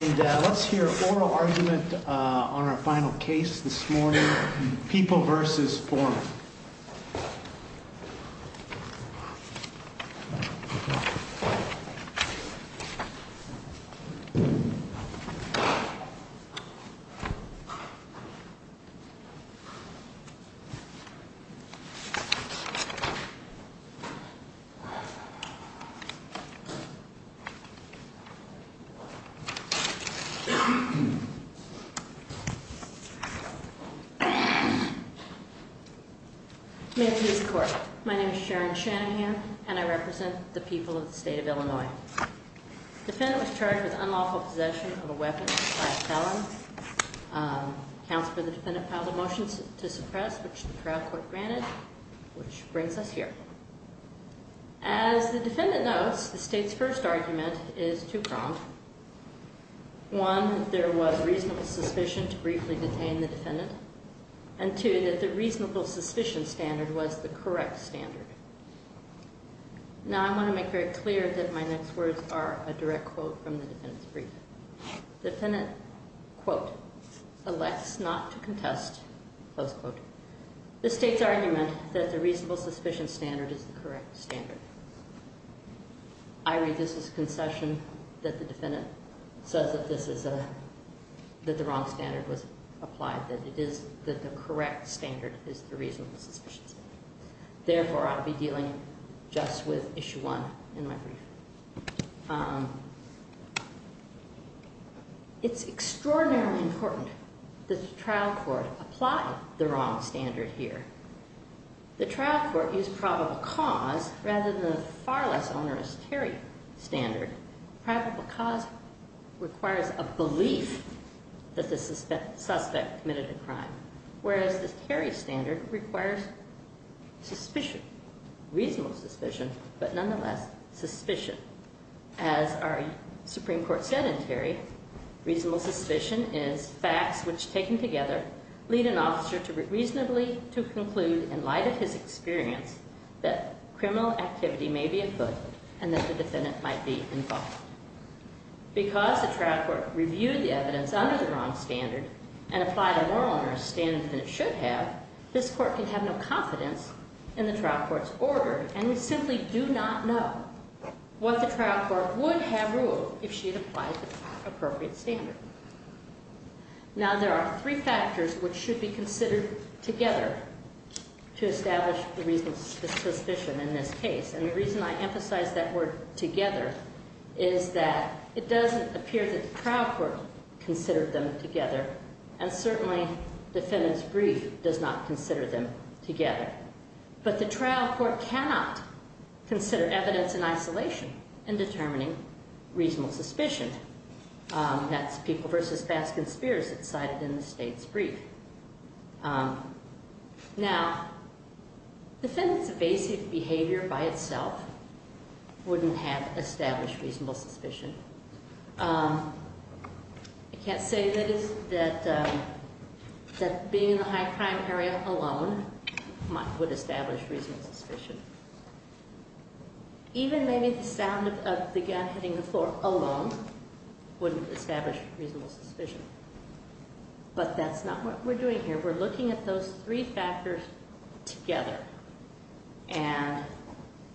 Let's hear oral argument on our final case this morning. People v. Foreman. My name is Sharon Shanahan and I represent the people of the state of Illinois. The defendant was charged with unlawful possession of a weapon by a felon. Counsel for the defendant filed a motion to suppress, which the trial court granted, which brings us here. As the was reasonable suspicion to briefly detain the defendant, and two, that the reasonable suspicion standard was the correct standard. Now I want to make very clear that my next words are a direct quote from the defendant's brief. The defendant, quote, elects not to contest, close quote, the state's argument that the reasonable suspicion standard is the correct standard. I read this as a concession that the defendant says that the wrong standard was applied, that the correct standard is the reasonable suspicion standard. Therefore I'll be dealing just with issue one in my brief. It's extraordinarily important that the trial court apply the wrong standard here. The trial court used probable cause rather than the far less onerous Terry standard. Probable cause requires a belief that the suspect committed a crime, whereas the Terry standard requires suspicion, reasonable suspicion, but nonetheless suspicion. As our Supreme Court said in Terry, reasonable suspicion is facts which taken together lead an officer to reasonably to conclude in light of his experience that criminal activity may be afoot and that the defendant might be involved. Because the trial court reviewed the evidence under the wrong standard and applied a more onerous standard than it should have, this court can have no confidence in the trial court's order and we simply do not know what the trial court would have ruled if she had applied the appropriate standard. Now there are three factors which should be considered together to establish the reasonable suspicion in this case. And the reason I emphasize that word together is that it doesn't appear that the trial court considered them together, and certainly the defendant's brief does not consider them together. But the trial court cannot consider evidence in isolation in determining reasonable suspicion. That's People v. Baskin-Spears that's cited in the state's brief. Now the defendant's basic behavior by itself wouldn't have established reasonable suspicion. I can't say that being in the high crime area alone would establish reasonable suspicion. Even maybe the sound of the gun hitting the floor alone wouldn't establish reasonable suspicion. But that's not what we're doing here. We're looking at those three factors together. And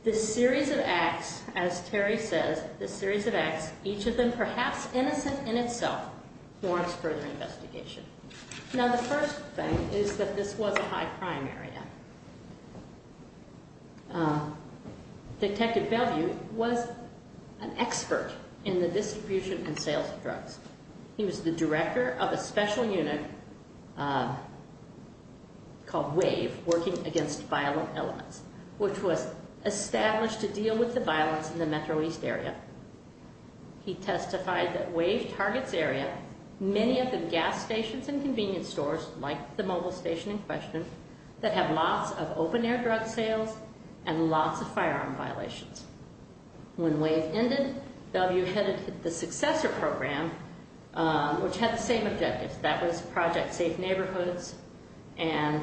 this series of acts, as Terry says, this series of acts, each of them perhaps innocent in itself warrants further investigation. Now the first thing is that this was a high crime area. Detective Bellevue was an expert in the distribution and sales of drugs. He was the director of a special unit called WAVE, Working Against Violent Elements, which was established to deal with the violence in the metro east area. He testified that WAVE targets area, many of the gas stations and convenience stores, like the mobile station in question, that have lots of open air drug sales and lots of firearm violations. When which had the same objectives. That was project safe neighborhoods. And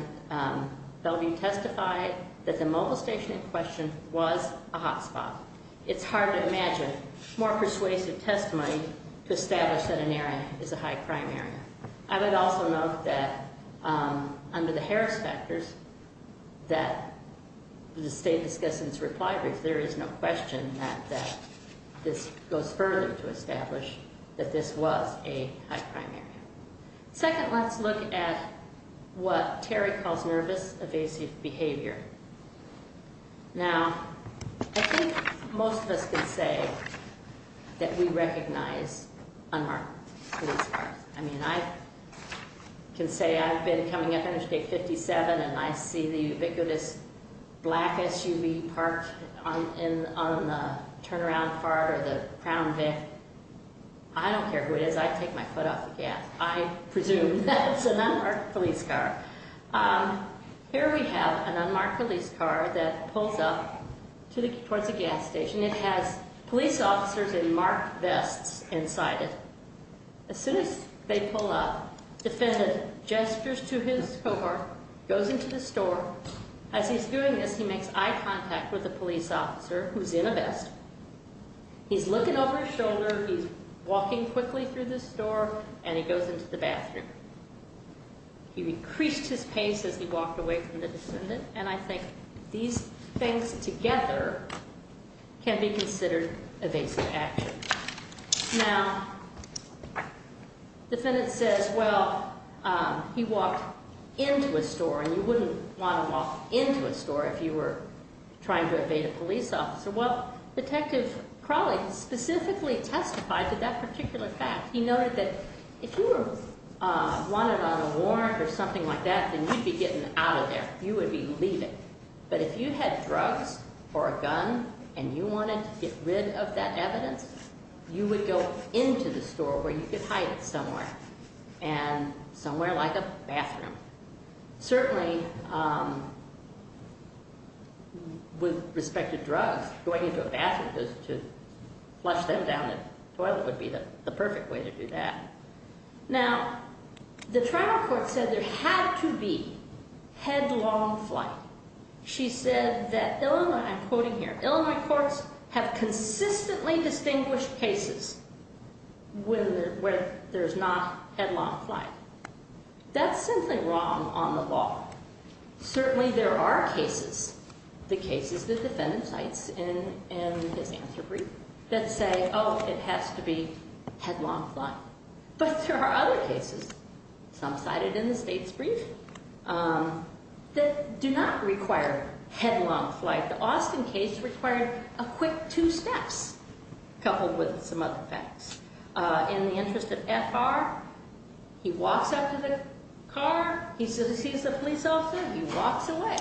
Bellevue testified that the mobile station in question was a hot spot. It's hard to imagine more persuasive testimony to establish that an area is a high crime area. I would also note that under the Harris factors that the state discussed in its reply brief, there is no question that this goes further to establish that this was a high crime area. Second, let's look at what Terry calls nervous evasive behavior. Now I think most of us can say that we recognize unmarked police cars. I mean I can say I've been coming up interstate 57 and I see the turn around fart or the crown vent. I don't care who it is, I take my foot off the gas. I presume that's an unmarked police car. Here we have an unmarked police car that pulls up towards the gas station. It has police officers in marked vests inside it. As soon as they pull up, the defendant gestures to his cohort, goes into the store. As he's doing this, he makes eye contact with a police officer who's in a vest. He's looking over his shoulder, he's walking quickly through the store and he goes into the bathroom. He increased his pace as he walked away from the defendant and I think these things together can be considered evasive action. Now the defendant says, well, he walked into a store and you wouldn't want to walk into a store if you were trying to evade a police officer. Well, Detective Crowley specifically testified to that particular fact. He noted that if you were wanted on a warrant or something like that, then you'd be getting out of there. You would be leaving. But if you had drugs or a gun and you wanted to get rid of that evidence, you would go into the store where you could hide it somewhere and somewhere like a bathroom. Certainly with respect to drugs, going into a bathroom to flush them down the toilet would be the perfect way to do that. Now, the trial court said there had to be headlong flight. She said that Illinois, I'm quoting here, Illinois courts have consistently distinguished cases where there's not headlong flight. That's simply wrong on the law. Certainly there are cases, the cases the defendant cites in his answer brief, that say, oh, it has to be headlong flight. But there are other cases, some cited in the state's brief, that do not require headlong flight. The Austin case required a quick two steps, coupled with some other facts. In the interest of F.R., he walks out to the car, he sees the police officer, he walks away.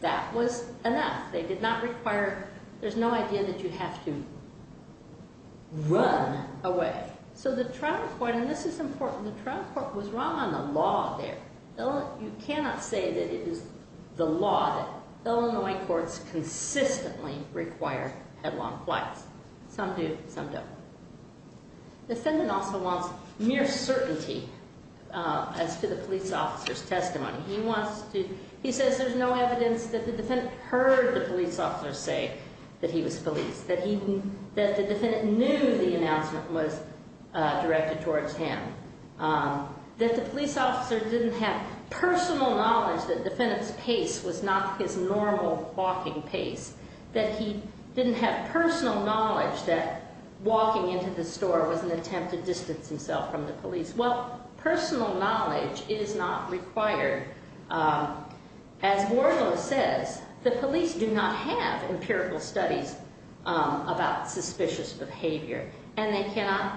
That was enough. They did not require, there's no idea that you have to run away. So the trial court, and this is important, the trial court was wrong on the law there. You cannot say that it is the law that Illinois courts consistently require headlong flights. Some do, some don't. The defendant also wants mere certainty as to the police officer's testimony. He says there's no evidence that the defendant heard the police officer say that he was policed, that the defendant knew the announcement was made, that the police officer didn't have personal knowledge that the defendant's pace was not his normal walking pace, that he didn't have personal knowledge that walking into the store was an attempt to distance himself from the police. Well, personal knowledge is not required. As Wardlow says, the police do not have empirical studies about suspicious behavior, and they cannot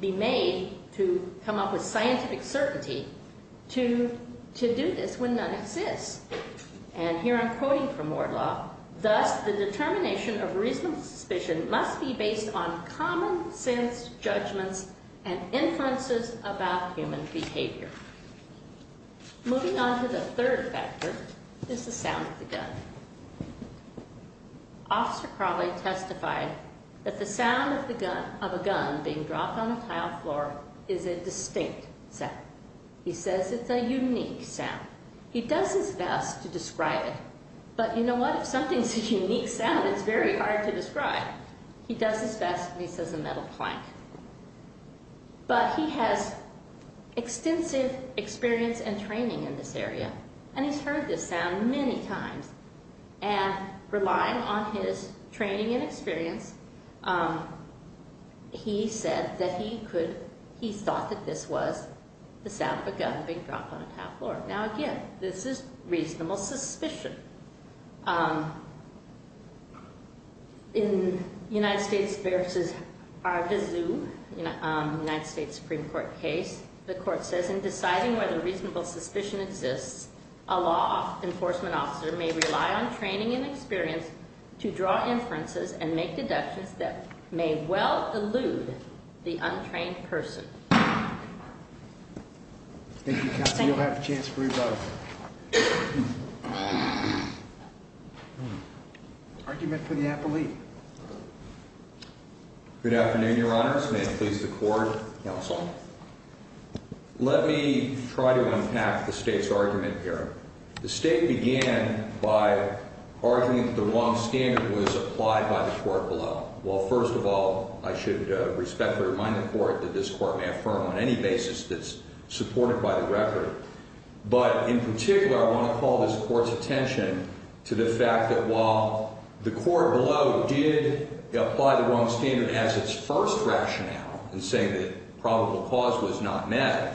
be made to come up with scientific certainty to do this when none exists. And here I'm quoting from Wardlow, thus the determination of reasonable suspicion must be based on common sense judgments and inferences about human behavior. Moving on to the third factor is the sound of the gun. Officer Crawley testified that the sound of a gun being dropped on a tile floor is a distinct sound. He says it's a unique sound. He does his best to describe it, but you know what? If something's a unique sound, it's very hard to describe. He does his best, and he says a metal plank. But he has extensive experience and training in this area, and he's heard this sound many times. And relying on his training and experience, he said that he thought that this was the sound of a gun being dropped on a tile floor. Now again, this is reasonable suspicion. In a United States Supreme Court case, the court says in deciding whether reasonable suspicion exists, a law enforcement officer may rely on training and experience to draw inferences and make deductions that may well elude the untrained person. Thank you, counsel. You'll have a chance for rebuttal. Argument for the appellee. Good afternoon, Your Honors. May it please the Court, counsel. Let me try to unpack the State's argument here. The State began by arguing that the wrong standard was applied by the court below. Well, first of all, I should respectfully remind the Court that this Court may affirm on any basis that it's supported by the record. But in particular, I want to call this Court's attention to the fact that while the Court below did apply the wrong standard as its first rationale in saying that probable cause was not met,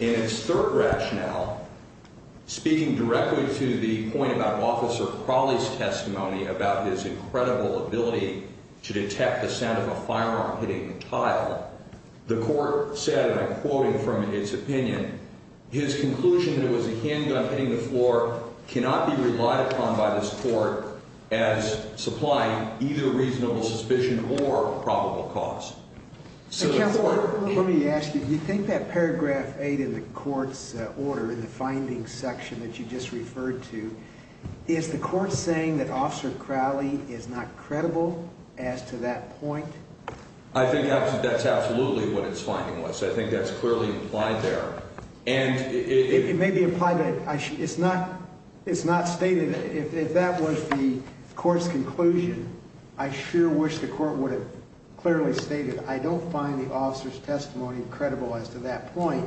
in its third rationale, speaking directly to the point about Officer Crawley's testimony about his incredible ability to detect the sound of a firearm hitting a tile, the Court said, and I'm quoting from its opinion, his conclusion that it was a handgun hitting the floor cannot be relied upon by this Court as supplying either reasonable suspicion or probable cause. Counsel, let me ask you, do you think that paragraph 8 in the Court's order, in the findings section that you just referred to, is the Court saying that Officer Crawley is not credible as to that point? I think that's absolutely what its finding was. I think that's clearly implied there. It may be implied, but it's not stated. If that was the Court's conclusion, I sure wish the Court would have clearly stated, I don't find the Officer's testimony credible as to that point,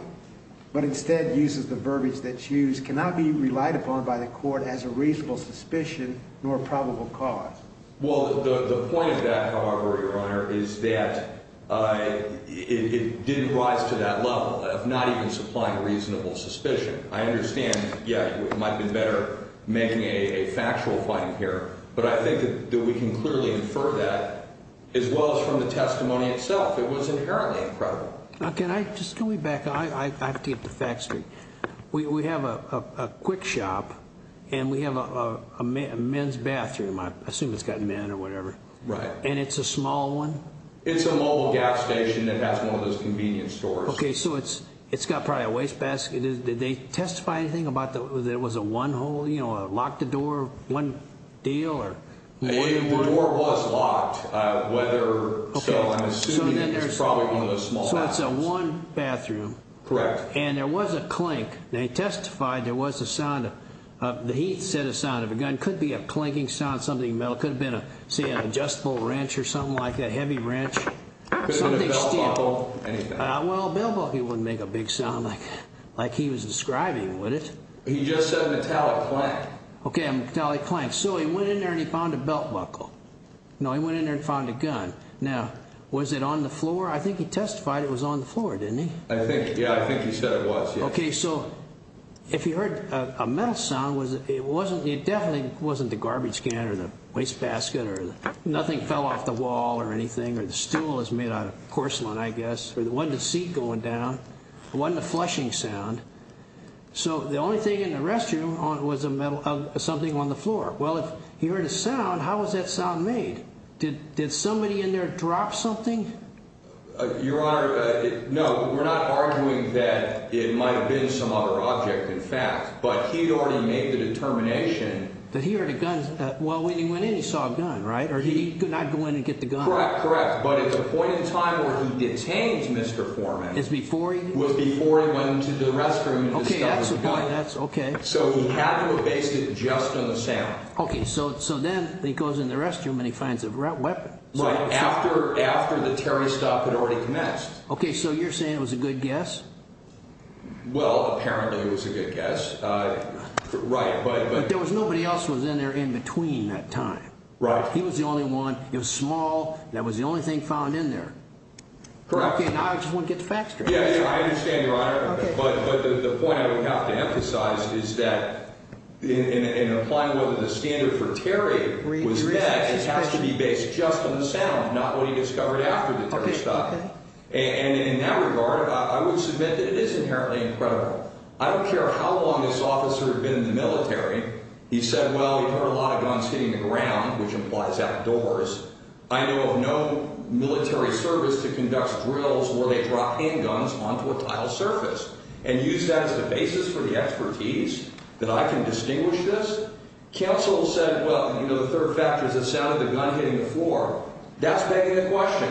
but instead uses the verbiage that's used, cannot be relied upon by the Court as a reasonable suspicion nor probable cause. Well, the point of that, however, Your Honor, is that it didn't rise to that level of not even supplying reasonable suspicion. I understand, yeah, it might have been better making a factual finding here, but I think that we can clearly infer that, as well as from the testimony itself. It was inherently incredible. Now, can I just, can we back up? I have to get to Fact Street. We have a quick shop, and we have a men's bathroom. I assume it's got men or whatever. Right. And it's a small one? It's a mobile gas station that has one of those convenience stores. Okay, so it's got probably a wastebasket. Did they testify anything about there was a one-hole, you know, a lock the door one deal? The door was locked, whether, so I'm assuming it's probably one of those small bathrooms. So it's a one bathroom. Correct. And there was a clink. They testified there was a sound of, he said a sound of a gun. Could be a clinking sound, something metal. Could have been, say, an adjustable wrench or something like that, heavy wrench. Could have been a belt buckle, anything. Well, a belt buckle wouldn't make a big sound like he was describing, would it? He just said metallic clank. Okay, a metallic clank. So he went in there and he found a belt buckle. No, he went in there and found a gun. Now, was it on the floor? I think he testified it was on the floor, didn't he? I think, yeah, I think he said it was, yeah. Okay, so if he heard a metal sound, it definitely wasn't the garbage can or the wastebasket or nothing fell off the wall or anything or the stool was made out of porcelain, I guess. It wasn't a seat going down. It wasn't a flushing sound. So the only thing in the restroom was something on the floor. Well, if he heard a sound, how was that sound made? Did somebody in there drop something? Your Honor, no, we're not arguing that it might have been some other object, in fact. But he'd already made the determination. That he heard a gun. Well, when he went in, he saw a gun, right? Or he could not go in and get the gun? Correct, correct. But at the point in time where he detains Mr. Foreman. Is before he did? Was before he went into the restroom and discovered the gun. Okay, that's okay. So he had to have based it just on the sound. Okay, so then he goes in the restroom and he finds a weapon. Right, after the Terry stuff had already commenced. Okay, so you're saying it was a good guess? Well, apparently it was a good guess. Right, but there was nobody else was in there in between that time. Right. He was the only one. It was small. That was the only thing found in there. Correct. Okay, now I just want to get the facts straight. Yeah, yeah, I understand, Your Honor. But the point I would have to emphasize is that in applying what the standard for Terry was that it has to be based just on the sound, not what he discovered after the Terry stuff. Okay. And in that regard, I would submit that it is inherently incredible. I don't care how long this officer had been in the military. He said, well, he heard a lot of guns hitting the ground, which implies outdoors. I know of no military service to conduct drills where they drop handguns onto a tile surface and use that as the basis for the expertise that I can distinguish this. Counsel said, well, you know, the third factor is the sound of the gun hitting the floor. That's begging the question.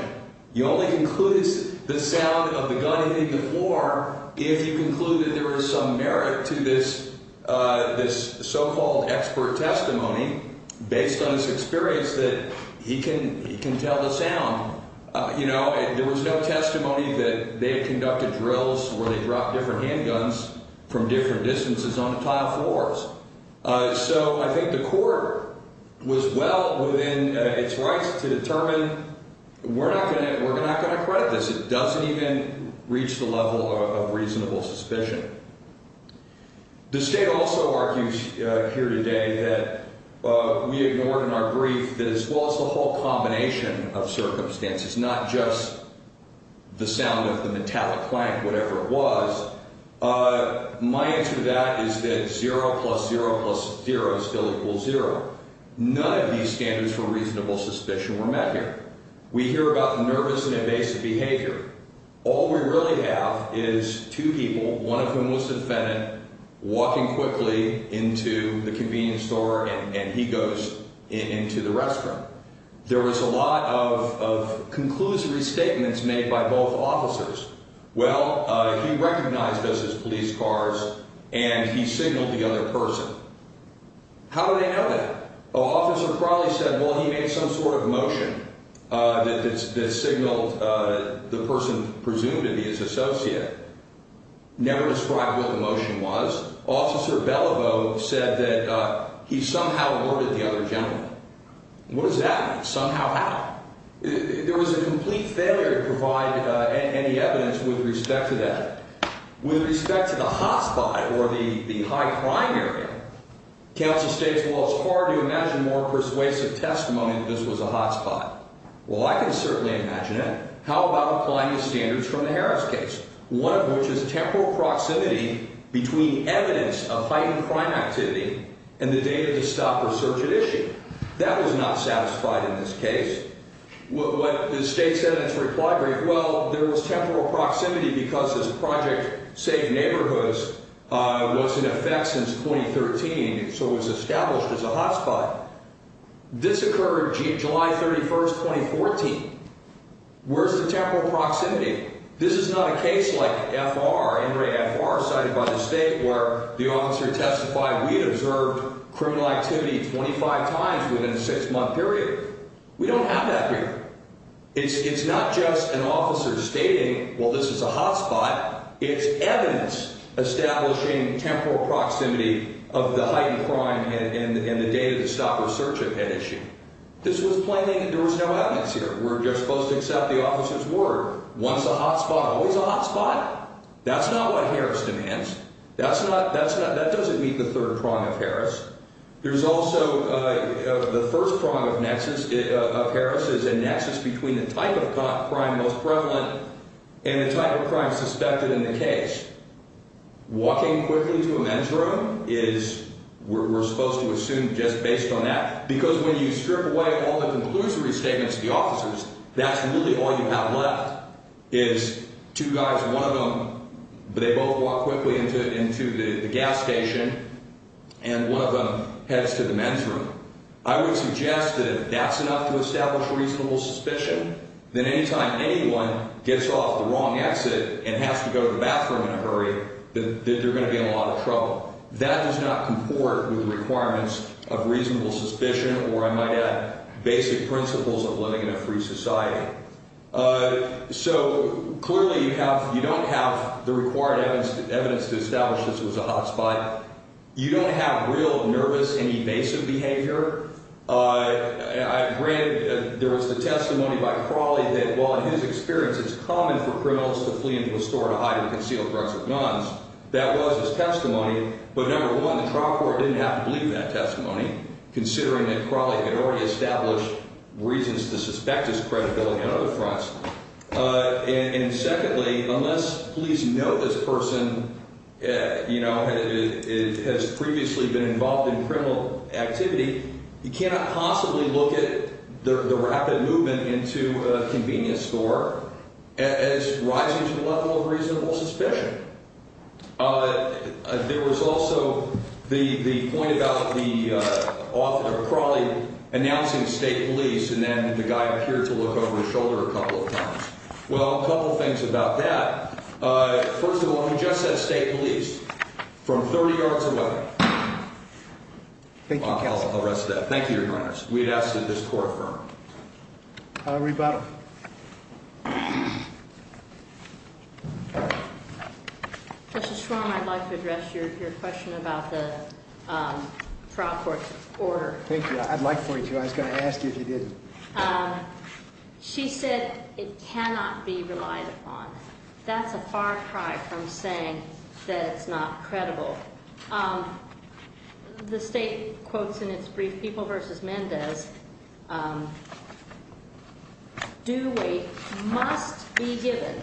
You only conclude the sound of the gun hitting the floor if you conclude that there was some merit to this so-called expert testimony based on his experience that he can tell the sound. You know, there was no testimony that they had conducted drills where they dropped different handguns from different distances on tile floors. So I think the court was well within its rights to determine we're not going to credit this. It doesn't even reach the level of reasonable suspicion. The state also argues here today that we ignored in our brief that as well as the whole combination of circumstances, it's not just the sound of the metallic clank, whatever it was. My answer to that is that zero plus zero plus zero still equals zero. None of these standards for reasonable suspicion were met here. We hear about the nervous and invasive behavior. All we really have is two people, one of whom was defendant, walking quickly into the convenience store and he goes into the restroom. There was a lot of conclusory statements made by both officers. Well, he recognized us as police cars and he signaled the other person. How do they know that? An officer probably said, well, he made some sort of motion that signaled the person presumed to be his associate. Never described what the motion was. Officer Belliveau said that he somehow ordered the other gentleman. What does that mean? Somehow how? There was a complete failure to provide any evidence with respect to that. With respect to the hot spot or the high crime area, counsel states, well, it's hard to imagine more persuasive testimony that this was a hot spot. Well, I can certainly imagine it. How about applying the standards from the Harris case, one of which is temporal proximity between evidence of heightened crime activity and the data to stop research at issue? That was not satisfied in this case. What the state sentence reply gave, well, there was temporal proximity because this project, Safe Neighborhoods, was in effect since 2013, so it was established as a hot spot. This occurred July 31st, 2014. Where's the temporal proximity? This is not a case like F.R., Ingray F.R., cited by the state where the officer testified we observed criminal activity 25 times within a six-month period. We don't have that here. It's not just an officer stating, well, this is a hot spot. It's evidence establishing temporal proximity of the heightened crime and the data to stop research at issue. This was plainly that there was no evidence here. We're just supposed to accept the officer's word. Once a hot spot, always a hot spot. That's not what Harris demands. That doesn't meet the third prong of Harris. There's also the first prong of Harris is a nexus between the type of crime most prevalent and the type of crime suspected in the case. Walking quickly to a men's room is we're supposed to assume just based on that because when you strip away all the conclusory statements of the officers, that's really all you have left is two guys, one of them, but they both walk quickly into the gas station, and one of them heads to the men's room. I would suggest that if that's enough to establish reasonable suspicion, then any time anyone gets off the wrong exit and has to go to the bathroom in a hurry that they're going to be in a lot of trouble. That does not comport with the requirements of reasonable suspicion, or I might add basic principles of living in a free society. So clearly you don't have the required evidence to establish this was a hot spot. You don't have real nervous and evasive behavior. I read there was the testimony by Crawley that while in his experience it's common for criminals to flee into a store to hide and conceal drugs or guns, that was his testimony, but number one, the trial court didn't have to believe that testimony considering that Crawley had already established reasons to suspect his credibility on other fronts. And secondly, unless police know this person, you know, has previously been involved in criminal activity, you cannot possibly look at the rapid movement into a convenience store as rising to the level of reasonable suspicion. There was also the point about the author of Crawley announcing state police, and then the guy appeared to look over his shoulder a couple of times. Well, a couple of things about that. First of all, he just said state police from 30 yards away. Thank you, counsel. I'll arrest that. Thank you, Your Honor. We'd ask that this court affirm. I'll rebut. Justice Schwarm, I'd like to address your question about the trial court's order. Thank you. I'd like for you to. I was going to ask you if you didn't. She said it cannot be relied upon. That's a far cry from saying that it's not credible. The state quotes in its brief, People v. Mendez, due weight must be given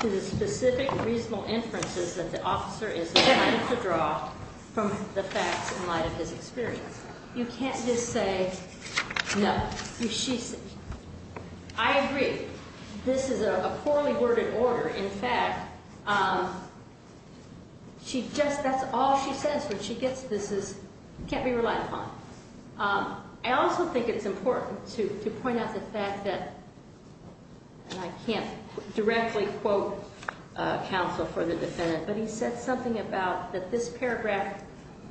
to the specific reasonable inferences that the officer is trying to draw from the facts in light of his experience. You can't just say no. You should say no. I agree. This is a poorly worded order. In fact, that's all she says when she gets this is can't be relied upon. I also think it's important to point out the fact that, and I can't directly quote counsel for the defendant, but he said something about that this paragraph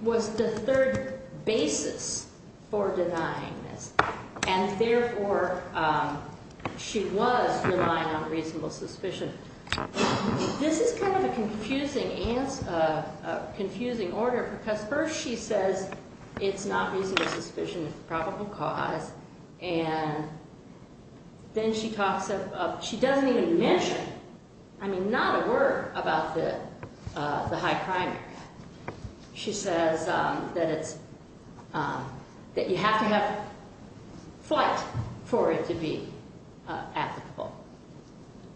was the third basis for denying this, and therefore she was relying on reasonable suspicion. This is kind of a confusing order because first she says it's not reasonable suspicion, it's probable cause, and then she doesn't even mention, I mean, not a word about the high primary. She says that you have to have flight for it to be applicable.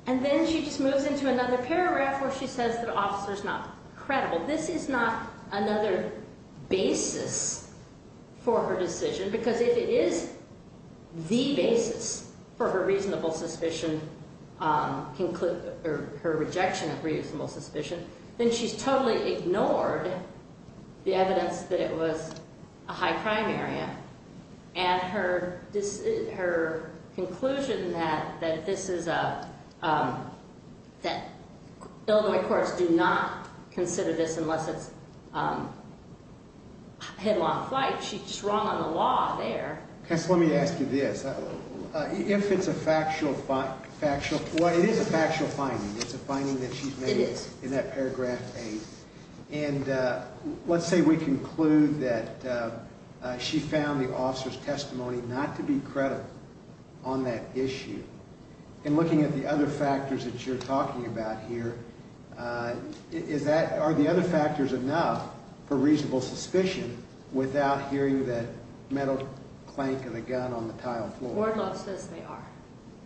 And then she just moves into another paragraph where she says the officer is not credible. This is not another basis for her decision because if it is the basis for her reasonable suspicion, her rejection of reasonable suspicion, then she's totally ignored the evidence that it was a high primary. And her conclusion that this is a, that Illinois courts do not consider this unless it's headlong flight, she's just wrong on the law there. Counsel, let me ask you this. If it's a factual, well, it is a factual finding. It's a finding that she's made in that paragraph eight. And let's say we conclude that she found the officer's testimony not to be credible on that issue. And looking at the other factors that you're talking about here, are the other factors enough for reasonable suspicion without hearing that metal clank and a gun on the tile floor? Wardlow says they are.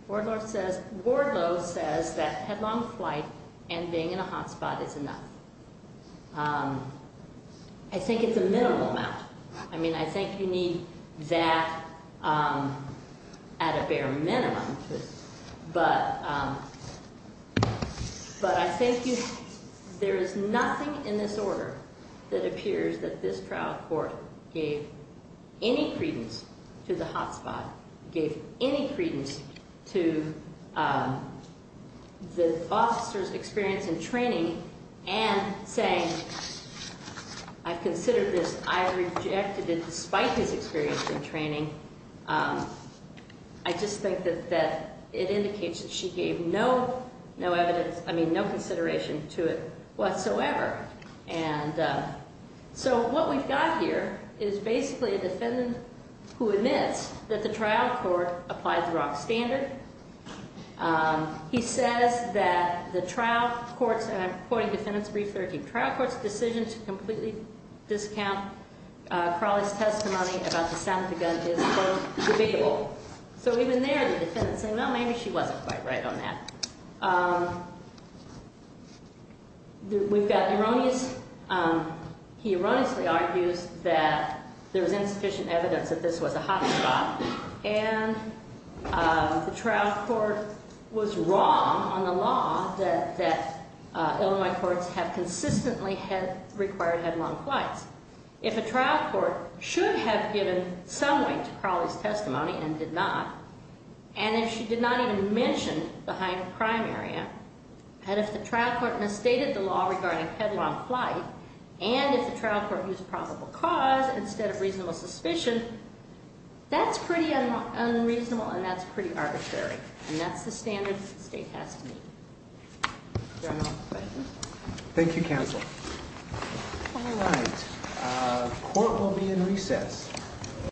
Wardlow says that headlong flight and being in a hot spot is enough. I think it's a minimal amount. I mean, I think you need that at a bare minimum. But I think there is nothing in this order that appears that this trial court gave any credence to the hot spot, gave any credence to the officer's experience in training and saying, I've considered this. I rejected it despite his experience in training. I just think that it indicates that she gave no evidence, I mean, no consideration to it whatsoever. And so what we've got here is basically a defendant who admits that the trial court applied the wrong standard. He says that the trial court's, and I'm quoting defendant's brief, 13th trial court's decision to completely discount Crowley's testimony about the sound of the gun is quote, debatable. So even there, the defendant's saying, well, maybe she wasn't quite right on that. We've got erroneous, he erroneously argues that there was insufficient evidence that this was a hot spot. And the trial court was wrong on the law that Illinois courts have consistently required headlong flights. If a trial court should have given some weight to Crowley's testimony and did not, and if she did not even mention the high end crime area, and if the trial court misstated the law regarding headlong flight, and if the trial court used probable cause instead of reasonable suspicion, that's pretty unreasonable and that's pretty arbitrary. And that's the standard the state has to meet. Thank you counsel. All right. Court will be in recess.